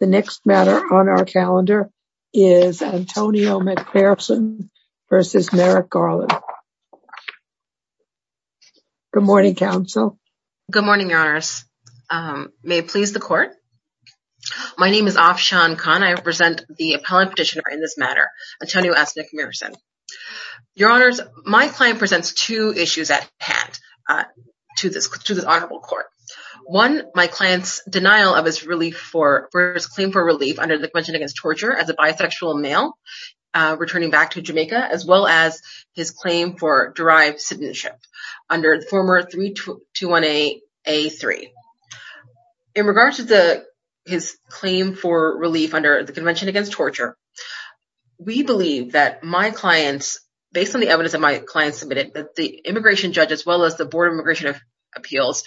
The next matter on our calendar is Antonio McPherson v. Merrick Garland. Good morning, Counsel. Good morning, Your Honors. May it please the Court? My name is Afshan Khan. I represent the Appellant Petitioner in this matter, Antonio S. McPherson. Your Honors, my client presents two issues at hand to this Honorable Court. One, my client's denial of his claim for relief under the Convention Against Torture as a bisexual male, returning back to Jamaica, as well as his claim for derived citizenship under former 321A-3. In regard to his claim for relief under the Convention Against Torture, we believe that my client, based on the evidence that my client submitted, that the immigration judge, as well as the Board of Immigration Appeals,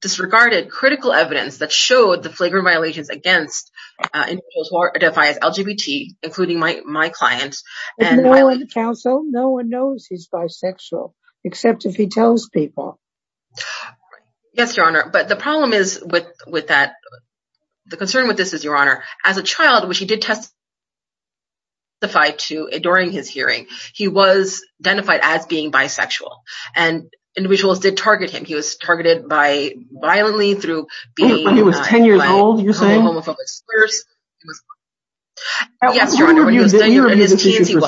disregarded critical evidence that showed the flagrant violations against individuals who identify as LGBT, including my client. No one in the Council knows he's bisexual, except if he tells people. Yes, Your Honor, but the problem is with that, the concern with this is, Your Honor, as a child, which he did testify to during his hearing, he was identified as being bisexual, and individuals did target him. He was targeted violently through being a homophobe. He was 10 years old, you're saying? Yes, Your Honor, but he was 10 years old in his teens, he was.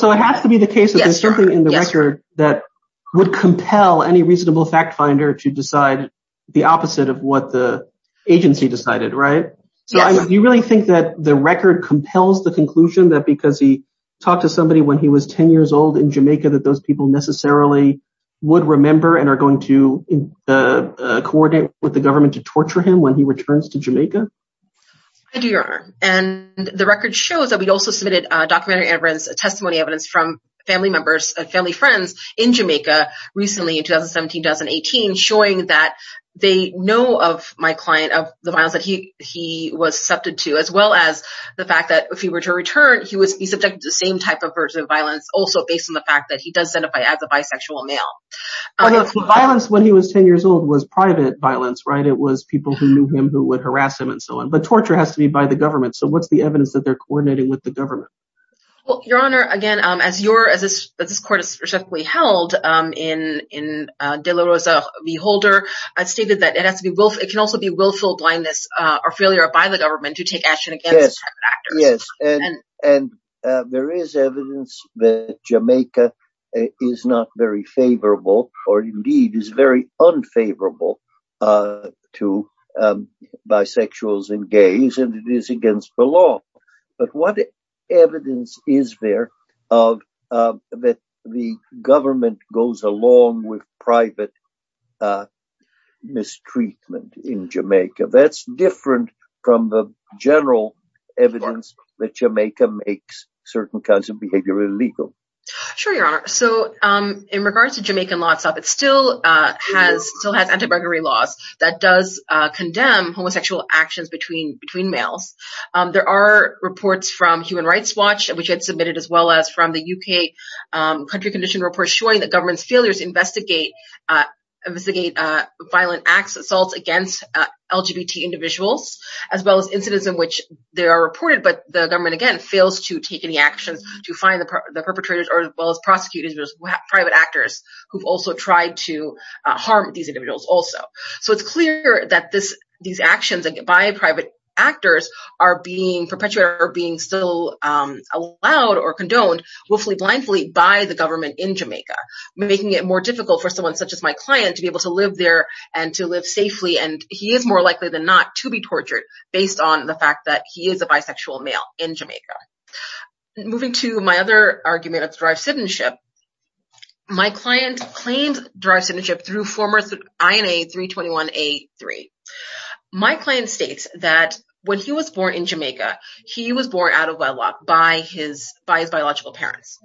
So it has to be the case that there's something in the record that would compel any reasonable fact finder to decide the opposite of what the agency decided, right? Do you really think that the record compels the conclusion that because he talked to somebody when he was 10 years old in Jamaica that those people necessarily would remember and are going to coordinate with the government to torture him when he returns to Jamaica? I do, Your Honor, and the record shows that we also submitted documentary evidence, testimony evidence from family members and family friends in Jamaica recently, in 2017-2018, showing that they know of my client, of the violence that he was subjected to, as well as the fact that if he were to return, he would be subjected to the same type of violence, also based on the fact that he does identify as a bisexual male. Violence when he was 10 years old was private violence, right? It was people who knew him who would harass him and so on, but torture has to be by the government. So what's the evidence that they're coordinating with the government? Well, Your Honor, again, as this court has specifically held in De La Rosa v. Holder, it stated that it can also be willful blindness or failure by the government to take action against certain actors. Yes, and there is evidence that Jamaica is not very favorable, or indeed is very unfavorable, to bisexuals and gays and it is against the law. But what evidence is there that the government goes along with private mistreatment in Jamaica? That's different from the general evidence that Jamaica makes certain kinds of behavior illegal. Sure, Your Honor. So, in regards to Jamaican law itself, it still has anti-buggery laws that does condemn homosexual actions between males. There are reports from Human Rights Watch, which had submitted as well as from the UK country condition report showing that government's failures investigate violent acts, assaults against LGBT individuals, as well as incidents in which they are reported. But the government, again, fails to take any actions to find the perpetrators, as well as prosecutors, private actors who've also tried to harm these individuals also. So, it's clear that these actions by private actors are being perpetuated or being still allowed or condoned willfully, blindly by the government in Jamaica, making it more difficult for someone such as my client to be able to live there and to live safely, and he is more likely than not to be tortured based on the fact that he is a bisexual male in Jamaica. Moving to my other argument of derived citizenship. My client claims derived citizenship through former INA 321A3. My client states that when he was born in Jamaica, he was born out of wedlock by his biological parents.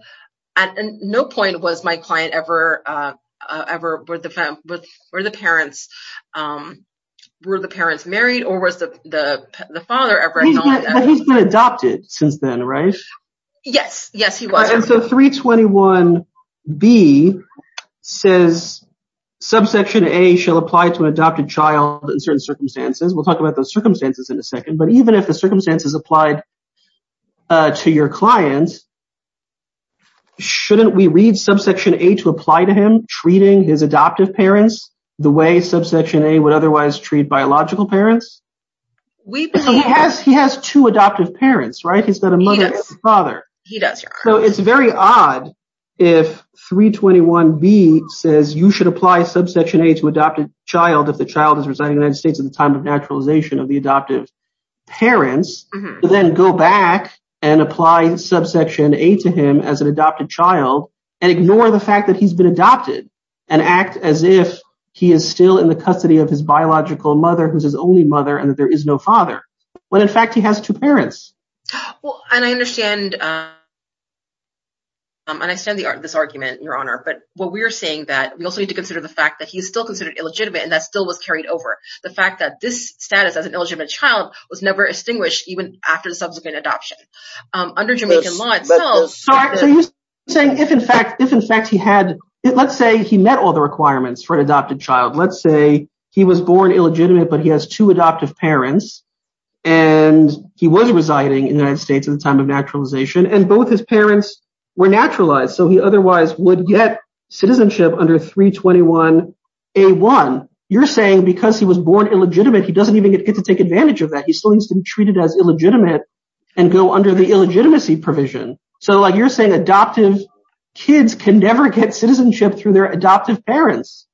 At no point was my client ever, were the parents married or was the father ever acknowledged. But he's been adopted since then, right? Yes. Yes, he was. And so 321B says subsection A shall apply to an adopted child in certain circumstances. We'll talk about those circumstances in a second. But even if the circumstances applied to your client, shouldn't we read subsection A to apply to him treating his adoptive parents the way subsection A would otherwise treat biological parents? He has two adoptive parents, right? He's got a mother and a father. So it's very odd if 321B says you should apply subsection A to adopted child if the child is residing in the United States at the time of naturalization of the adoptive parents, then go back and apply subsection A to him as an adopted child and ignore the fact that he's been adopted and act as if he is still in the custody of his biological mother, who's his only mother, and that there is no father, when in fact he has two parents. And I understand this argument, Your Honor. But what we're saying that we also need to consider the fact that he's still considered illegitimate and that still was carried over. The fact that this status as an illegitimate child was never extinguished even after the subsequent adoption. So you're saying if in fact he had, let's say he met all the requirements for an adopted child. Let's say he was born illegitimate, but he has two adoptive parents, and he was residing in the United States at the time of naturalization, and both his parents were naturalized, so he otherwise would get citizenship under 321A1. You're saying because he was born illegitimate, he doesn't even get to take advantage of that. He still needs to be treated as illegitimate and go under the illegitimacy provision. So you're saying adoptive kids can never get citizenship through their adoptive parents,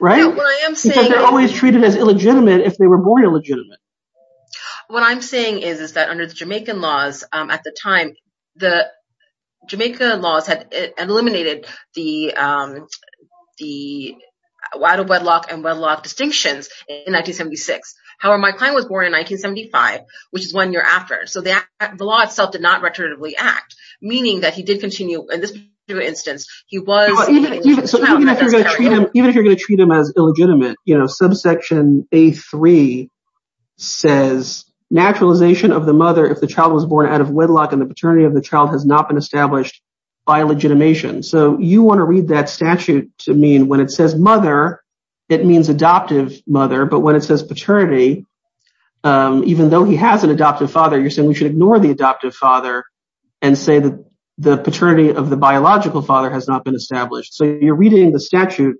right? Because they're always treated as illegitimate if they were born illegitimate. What I'm saying is that under the Jamaican laws at the time, the Jamaica laws had eliminated the adult wedlock and wedlock distinctions in 1976. However, my client was born in 1975, which is one year after. So the law itself did not retroactively act, meaning that he did continue in this particular instance. Even if you're going to treat him as illegitimate, subsection A3 says naturalization of the mother if the child was born out of wedlock and the paternity of the child has not been established by legitimation. So you want to read that statute to mean when it says mother, it means adoptive mother. But when it says paternity, even though he has an adoptive father, you're saying we should ignore the adoptive father and say that the paternity of the biological father has not been established. So you're reading the statute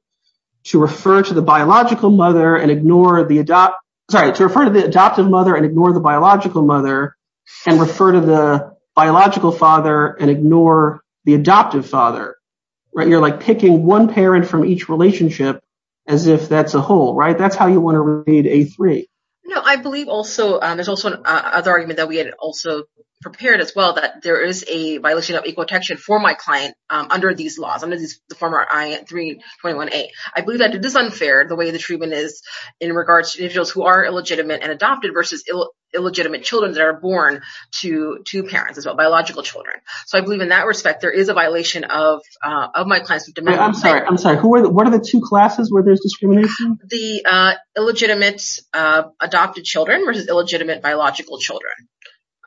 to refer to the biological mother and ignore the adoptive. Sorry to refer to the adoptive mother and ignore the biological mother and refer to the biological father and ignore the adoptive father. You're like picking one parent from each relationship as if that's a whole. Right. That's how you want to read A3. No, I believe also there's also another argument that we had also prepared as well, that there is a violation of equal protection for my client under these laws, under the former I-321A. I believe that it is unfair the way the treatment is in regards to individuals who are illegitimate and adopted versus illegitimate children that are born to parents as well, biological children. So I believe in that respect there is a violation of my client's demand. I'm sorry. I'm sorry. What are the two classes where there's discrimination? The illegitimate adopted children versus illegitimate biological children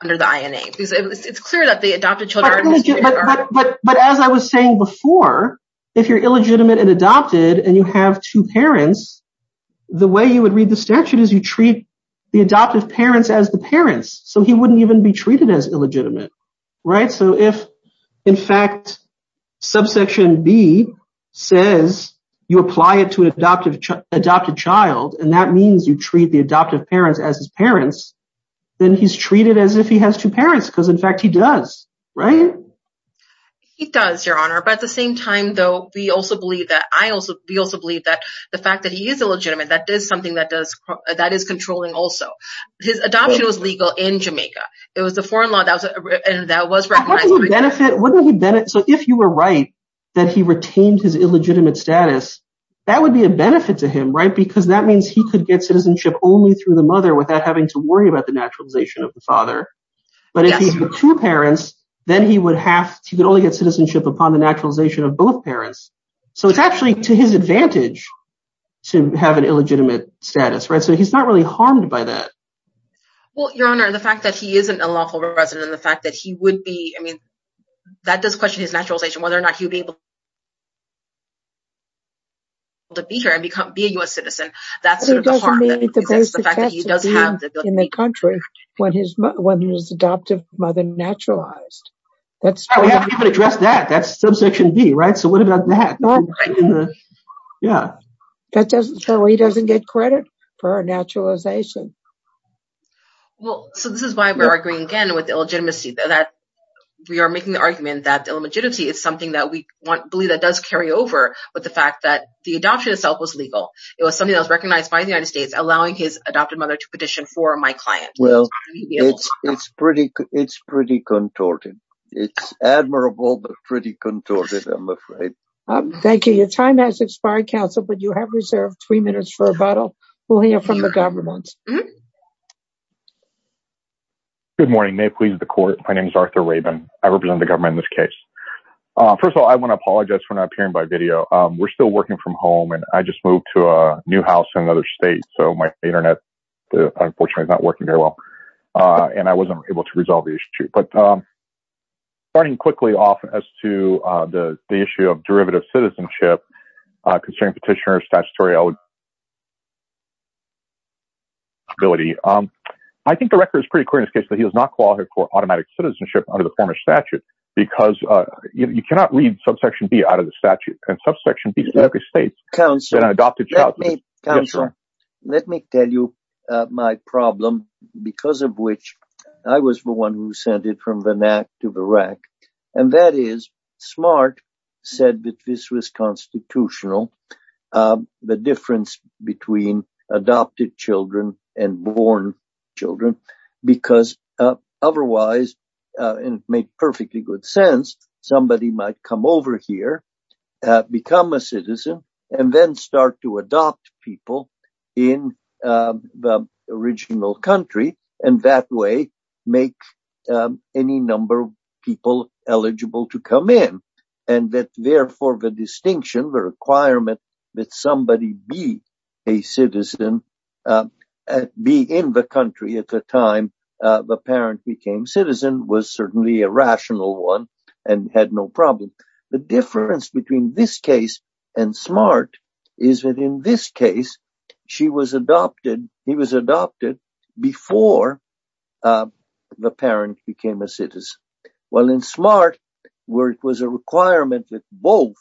under the INA. It's clear that the adopted children are... But as I was saying before, if you're illegitimate and adopted and you have two parents, the way you would read the statute is you treat the adoptive parents as the parents. So he wouldn't even be treated as illegitimate. Right. So if, in fact, subsection B says you apply it to an adopted child, and that means you treat the adoptive parents as his parents, then he's treated as if he has two parents because, in fact, he does. Right. He does, Your Honor. But at the same time, though, we also believe that the fact that he is illegitimate, that is something that is controlling also. His adoption was legal in Jamaica. It was the foreign law that was recognized. So if you were right that he retained his illegitimate status, that would be a benefit to him. Right. Because that means he could get citizenship only through the mother without having to worry about the naturalization of the father. But if he had two parents, then he would have to only get citizenship upon the naturalization of both parents. So it's actually to his advantage to have an illegitimate status. Right. So he's not really harmed by that. Well, Your Honor, the fact that he isn't a lawful resident, the fact that he would be, I mean, that does question his naturalization, whether or not he would be able to be here and be a U.S. citizen. That's the fact that he does have the ability in the country when his adoptive mother naturalized. We haven't even addressed that. That's subsection B. Right. So what about that? Yeah. So he doesn't get credit for naturalization. Well, so this is why we're arguing again with illegitimacy, that we are making the argument that illegitimacy is something that we want, believe that does carry over with the fact that the adoption itself was legal. It was something that was recognized by the United States, allowing his adoptive mother to petition for my client. Well, it's pretty, it's pretty contorted. It's admirable, but pretty contorted, I'm afraid. Thank you. Your time has expired, counsel, but you have reserved three minutes for rebuttal. We'll hear from the government. Good morning. May it please the court. My name is Arthur Rabin. I represent the government in this case. First of all, I want to apologize for not appearing by video. We're still working from home and I just moved to a new house in another state. So my Internet, unfortunately, is not working very well and I wasn't able to resolve the issue. But. Starting quickly off as to the issue of derivative citizenship, concerning petitioner statutory eligibility. I think the record is pretty clear in this case that he was not qualified for automatic citizenship under the former statute because you cannot read subsection B out of the statute. Counselor, let me tell you my problem, because of which I was the one who sent it from the NAC to the RAC. And that is smart, said that this was constitutional. The difference between adopted children and born children, because otherwise it made perfectly good sense. Somebody might come over here, become a citizen and then start to adopt people in the original country. And that way make any number of people eligible to come in. And that therefore the distinction, the requirement that somebody be a citizen, be in the country at the time the parent became citizen was certainly a rational one and had no problem. The difference between this case and smart is that in this case, she was adopted. He was adopted before the parent became a citizen. Well, in smart work was a requirement that both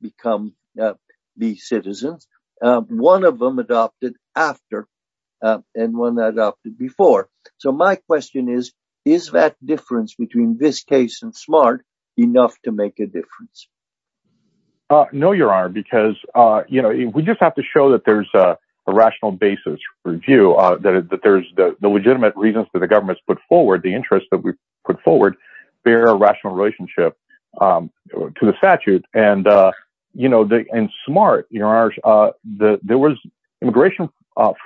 become the citizens. One of them adopted after and one adopted before. So my question is, is that difference between this case and smart enough to make a difference? No, your honor, because, you know, we just have to show that there's a rational basis review that there's the legitimate reasons for the government's put forward the interest that we put forward. There are rational relationship to the statute. And, you know, in smart, your honor, there was immigration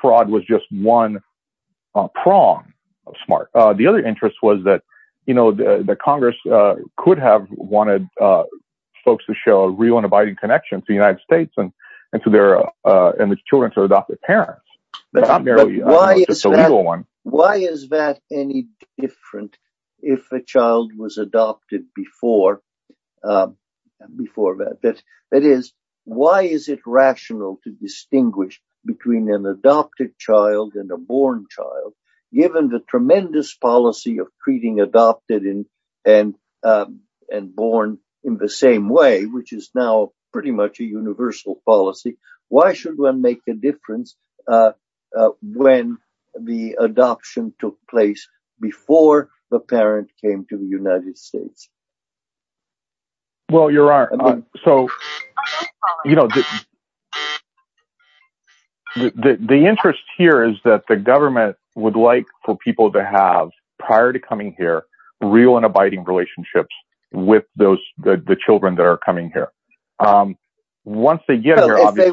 fraud was just one prong of smart. The other interest was that, you know, the Congress could have wanted folks to show a real and abiding connection to the United States and to their children to adopt their parents. Why is that any different if a child was adopted before that? That is, why is it rational to distinguish between an adopted child and a born child? Given the tremendous policy of treating adopted and born in the same way, which is now pretty much a universal policy. Why should one make a difference when the adoption took place before the parent came to the United States? Well, your honor, so, you know, the interest here is that the government would like for people to have prior to coming here, real and abiding relationships with the children that are coming here. Once they get here, they're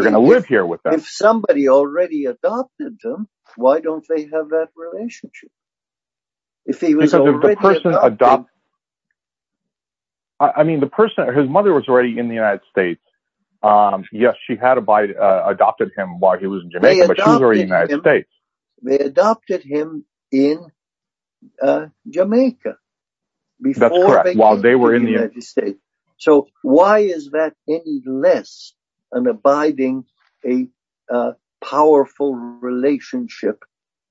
going to live here with them. If somebody already adopted them, why don't they have that relationship? I mean, the person, his mother was already in the United States. Yes, she had adopted him while he was in Jamaica, but she was already in the United States. They adopted him in Jamaica. That's correct, while they were in the United States. So why is that any less an abiding, a powerful relationship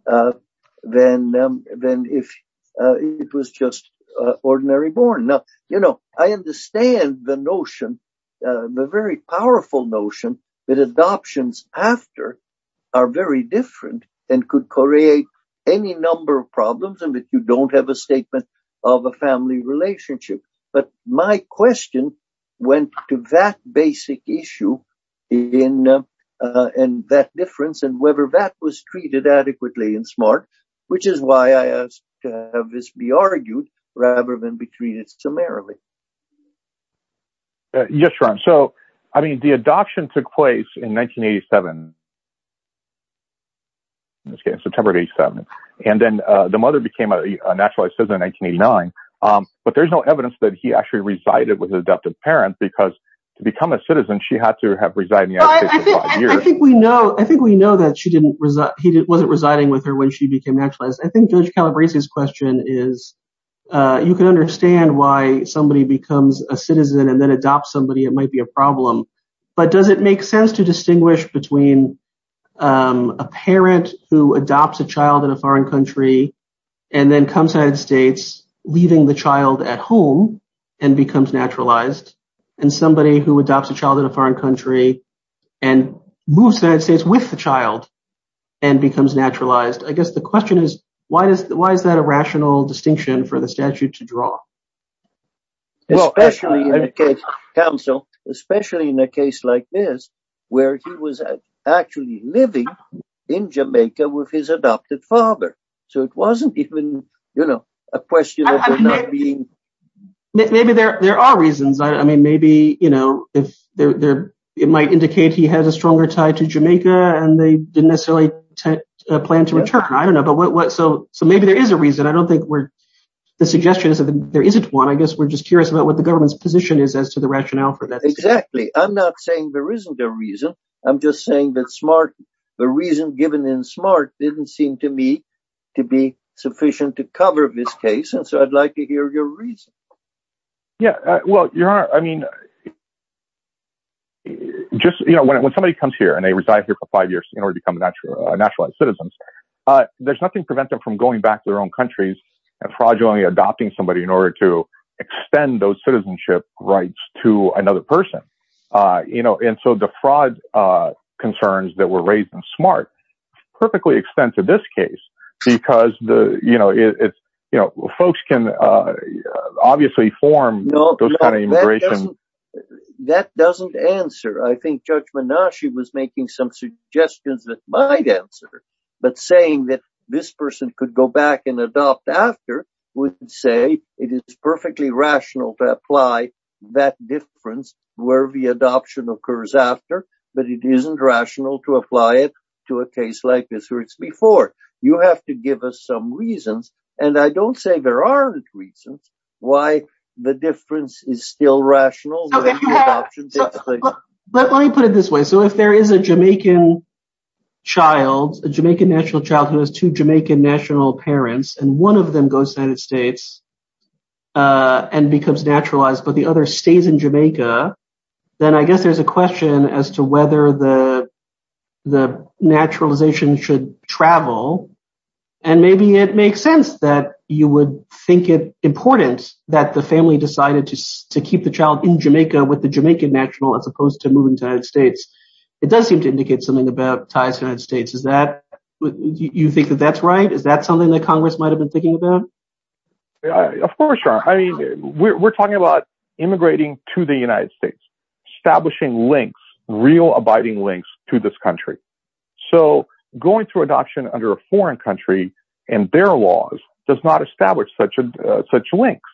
than if it was just ordinary born? Now, you know, I understand the notion, the very powerful notion that adoptions after are very different and could create any number of problems and that you don't have a statement of a family relationship. But my question went to that basic issue in that difference and whether that was treated adequately and smart, which is why I asked to have this be argued rather than be treated summarily. Yes, your honor. So, I mean, the adoption took place in 1987. In this case, September of 87, and then the mother became a naturalized citizen in 1989. But there's no evidence that he actually resided with adoptive parents because to become a citizen, she had to have resided in the United States for five years. I think we know that he wasn't residing with her when she became naturalized. I think Judge Calabrese's question is, you can understand why somebody becomes a citizen and then adopt somebody, it might be a problem. But does it make sense to distinguish between a parent who adopts a child in a foreign country and then comes to the United States, leaving the child at home and becomes naturalized? And somebody who adopts a child in a foreign country and moves to the United States with the child and becomes naturalized? I guess the question is, why is that a rational distinction for the statute to draw? Especially in a case like this, where he was actually living in Jamaica with his adopted father. So it wasn't even, you know, a question of him not being. Maybe there are reasons. I mean, maybe, you know, it might indicate he has a stronger tie to Jamaica and they didn't necessarily plan to return. I don't know. So maybe there is a reason. I don't think the suggestion is that there isn't one. I guess we're just curious about what the government's position is as to the rationale for that. Exactly. I'm not saying there isn't a reason. I'm just saying that smart, the reason given in smart didn't seem to me to be sufficient to cover this case. And so I'd like to hear your reason. Yeah, well, you're right. I mean. Just, you know, when somebody comes here and they reside here for five years in order to become a naturalized citizens, there's nothing to prevent them from going back to their own countries and fraudulently adopting somebody in order to extend those citizenship rights to another person. You know, and so the fraud concerns that were raised in smart perfectly extend to this case because the, you know, it's, you know, folks can obviously form those kind of immigration. That doesn't answer. I think Judge Menashe was making some suggestions that might answer. But saying that this person could go back and adopt after would say it is perfectly rational to apply that difference where the adoption occurs after, but it isn't rational to apply it to a case like this where it's before. You have to give us some reasons. And I don't say there aren't reasons why the difference is still rational. But let me put it this way. So if there is a Jamaican child, a Jamaican national child who has two Jamaican national parents and one of them goes to the United States and becomes naturalized, but the other stays in Jamaica, then I guess there's a question as to whether the naturalization should travel. And maybe it makes sense that you would think it important that the family decided to keep the child in Jamaica with the Jamaican national as opposed to moving to the United States. It does seem to indicate something about ties to the United States. Is that what you think that that's right? Is that something that Congress might have been thinking about? Of course. I mean, we're talking about immigrating to the United States, establishing links, real abiding links to this country. So going through adoption under a foreign country and their laws does not establish such a such links.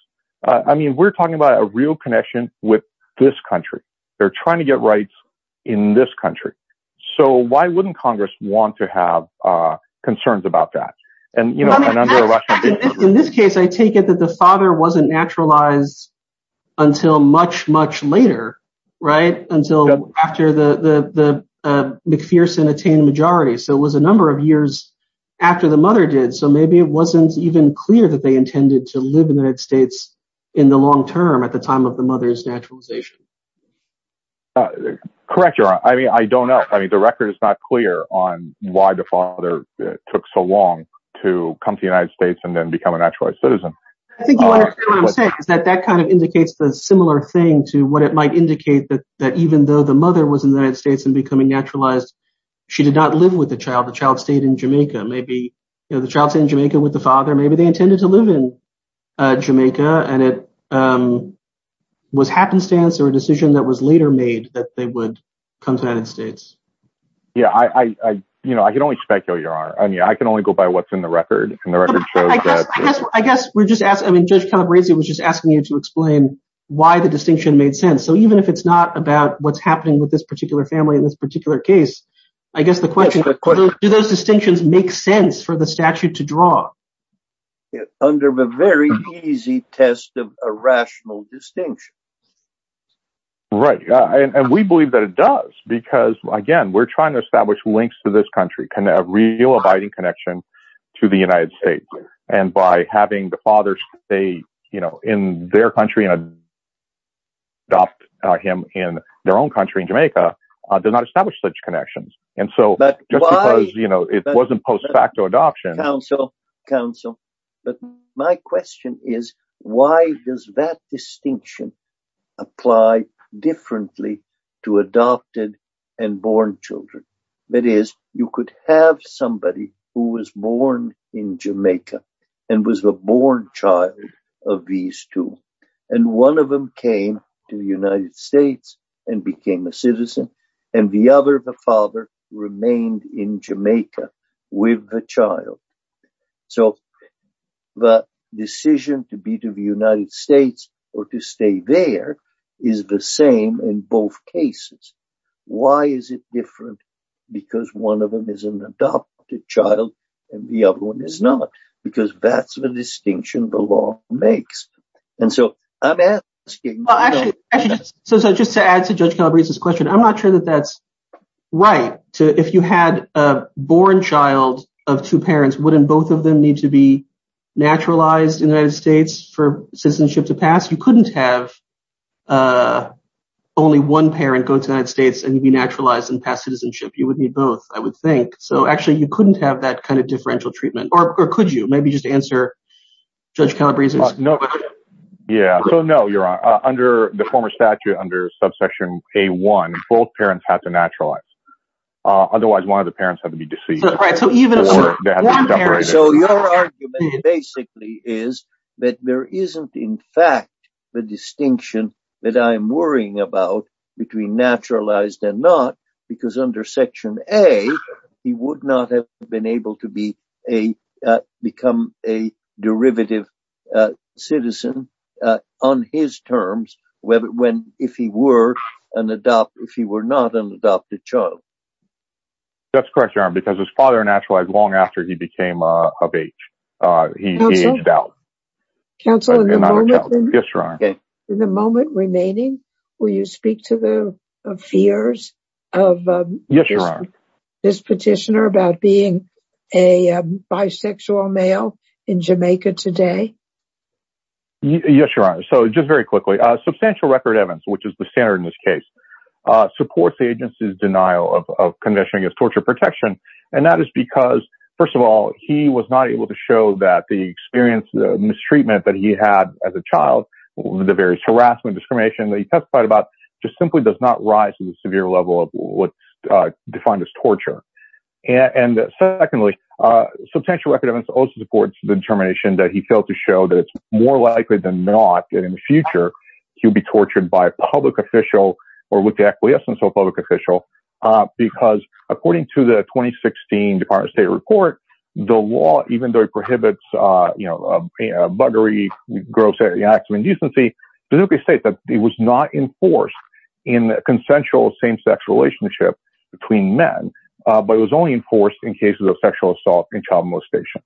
I mean, we're talking about a real connection with this country. They're trying to get rights in this country. So why wouldn't Congress want to have concerns about that? And, you know, in this case, I take it that the father wasn't naturalized until much, much later. Right. Until after the McPherson attained majority. So it was a number of years after the mother did. So maybe it wasn't even clear that they intended to live in the United States in the long term at the time of the mother's naturalization. Correct. I mean, I don't know. I mean, the record is not clear on why the father took so long to come to the United States and then become a naturalized citizen. I think what I'm saying is that that kind of indicates the similar thing to what it might indicate that that even though the mother was in the United States and becoming naturalized, she did not live with the child. The child stayed in Jamaica. Maybe the child's in Jamaica with the father. Maybe they intended to live in Jamaica. And it was happenstance or a decision that was later made that they would come to the United States. Yeah, I, you know, I can only speculate. I mean, I can only go by what's in the record. I guess we're just asking. I mean, Judge Calabresi was just asking you to explain why the distinction made sense. So even if it's not about what's happening with this particular family in this particular case, I guess the question is, do those distinctions make sense for the statute to draw? Under a very easy test of a rational distinction. Right. And we believe that it does, because, again, we're trying to establish links to this country, a real abiding connection to the United States. And by having the father stay, you know, in their country and adopt him in their own country in Jamaica, does not establish such connections. And so just because, you know, it wasn't post facto adoption. But my question is, why does that distinction apply differently to adopted and born children? That is, you could have somebody who was born in Jamaica and was the born child of these two. And one of them came to the United States and became a citizen. And the other, the father, remained in Jamaica with the child. So the decision to be to the United States or to stay there is the same in both cases. Why is it different? Because one of them is an adopted child and the other one is not, because that's the distinction the law makes. And so I'm asking. So just to add to Judge Calabrese's question, I'm not sure that that's right. If you had a born child of two parents, wouldn't both of them need to be naturalized in the United States for citizenship to pass? You couldn't have only one parent go to the United States and be naturalized and pass citizenship. You would need both, I would think. So actually, you couldn't have that kind of differential treatment. Or could you? Maybe just answer Judge Calabrese's question. Yeah. So no, Your Honor. Under the former statute, under subsection A1, both parents have to naturalize. Otherwise, one of the parents have to be deceased. So your argument basically is that there isn't, in fact, the distinction that I'm worrying about between naturalized and not, because under section A, he would not have been able to become a derivative citizen on his terms if he were not an adopted child. That's correct, Your Honor, because his father naturalized long after he became of age. He aged out. Counsel, in the moment remaining, will you speak to the fears of this petitioner about being a bisexual male in Jamaica today? Yes, Your Honor. So just very quickly, substantial record evidence, which is the standard in this case, supports the agency's denial of conviction against torture protection. And that is because, first of all, he was not able to show that the experience, the mistreatment that he had as a child, the various harassment, discrimination that he testified about, just simply does not rise to the severe level of what's defined as torture. And secondly, substantial evidence also supports the determination that he failed to show that it's more likely than not that in the future he'll be tortured by a public official or with the acquiescence of a public official, because according to the 2016 Department of State report, the law, even though it prohibits, you know, a buggery, gross acts of indecency, it was not enforced in a consensual same-sex relationship between men, but it was only enforced in cases of sexual assault and child molestation.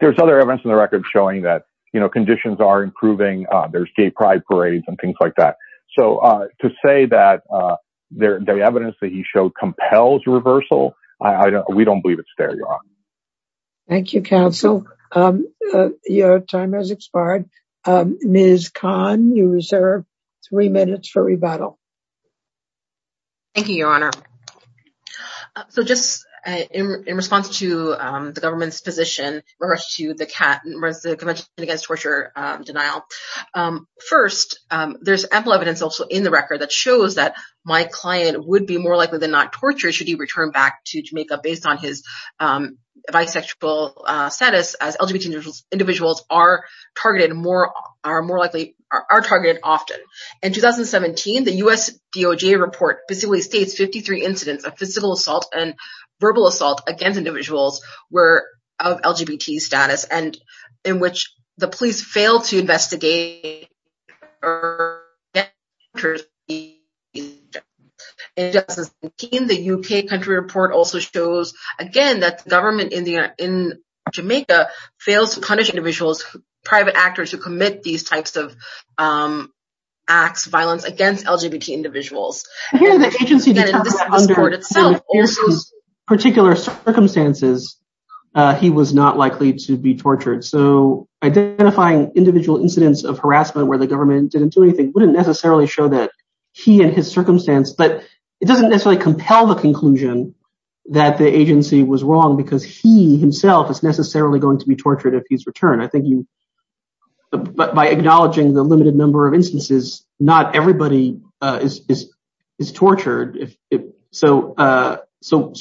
There's other evidence in the record showing that, you know, conditions are improving. There's gay pride parades and things like that. So to say that the evidence that he showed compels reversal, we don't believe it's fair, Your Honor. Thank you, counsel. Your time has expired. Ms. Khan, you reserve three minutes for rebuttal. Thank you, Your Honor. So just in response to the government's position in regards to the Convention Against Torture Denial. First, there's ample evidence also in the record that shows that my client would be more likely than not tortured should he return back to Jamaica based on his bisexual status as LGBT individuals are targeted more are more likely are targeted often. In 2017, the U.S. DOJ report basically states 53 incidents of physical assault and verbal assault against individuals were of LGBT status and in which the police failed to investigate. In 2017, the UK country report also shows, again, that the government in Jamaica fails to punish individuals, private actors who commit these types of acts of violence against LGBT individuals. And here the agency determined that under the fiercest particular circumstances, he was not likely to be tortured. So identifying individual incidents of harassment where the government didn't do anything wouldn't necessarily show that he and his circumstance, but it doesn't necessarily compel the conclusion that the agency was wrong because he himself is necessarily going to be tortured if he's returned. But by acknowledging the limited number of instances, not everybody is tortured. So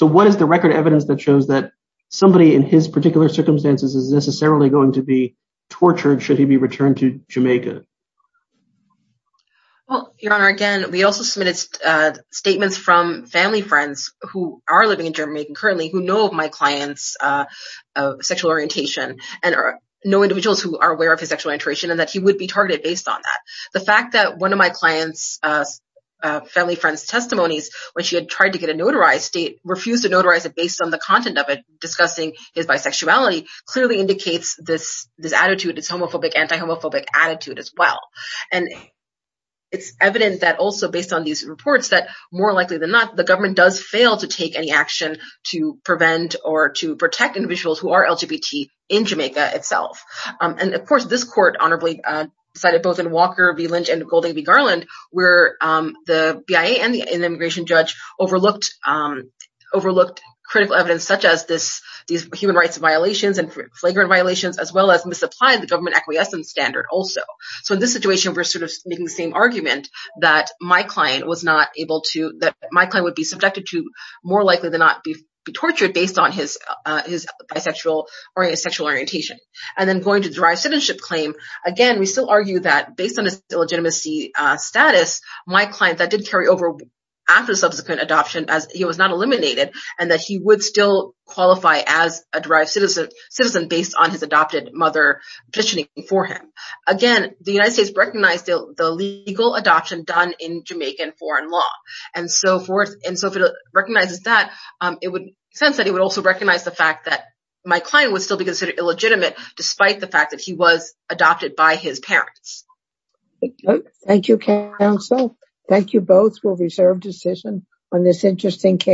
what is the record evidence that shows that somebody in his particular circumstances is necessarily going to be tortured should he be returned to Jamaica? Well, Your Honor, again, we also submitted statements from family friends who are living in Jamaica currently who know of my client's sexual orientation and know individuals who are aware of his sexual orientation and that he would be targeted based on that. The fact that one of my client's family friend's testimonies when she had tried to get a notarized state refused to notarize it based on the content of it discussing his bisexuality clearly indicates this attitude, this homophobic, anti-homophobic attitude as well. And it's evident that also based on these reports that more likely than not, the government does fail to take any action to prevent or to protect individuals who are LGBT in Jamaica itself. And, of course, this court honorably decided both in Walker v. Lynch and Golding v. Garland, where the BIA and the immigration judge overlooked critical evidence such as these human rights violations and flagrant violations, as well as misapplied the government acquiescence standard also. So in this situation, we're sort of making the same argument that my client was not able to that my client would be subjected to more likely than not be tortured based on his bisexual sexual orientation. And then going to the derived citizenship claim, again, we still argue that based on his illegitimacy status, my client that did carry over after subsequent adoption as he was not eliminated and that he would still qualify as a derived citizen based on his adopted mother petitioning for him. Again, the United States recognized the legal adoption done in Jamaican foreign law and so forth. And so if it recognizes that, it would sense that it would also recognize the fact that my client would still be considered illegitimate despite the fact that he was adopted by his parents. Thank you, counsel. Thank you both for reserved decision on this interesting case.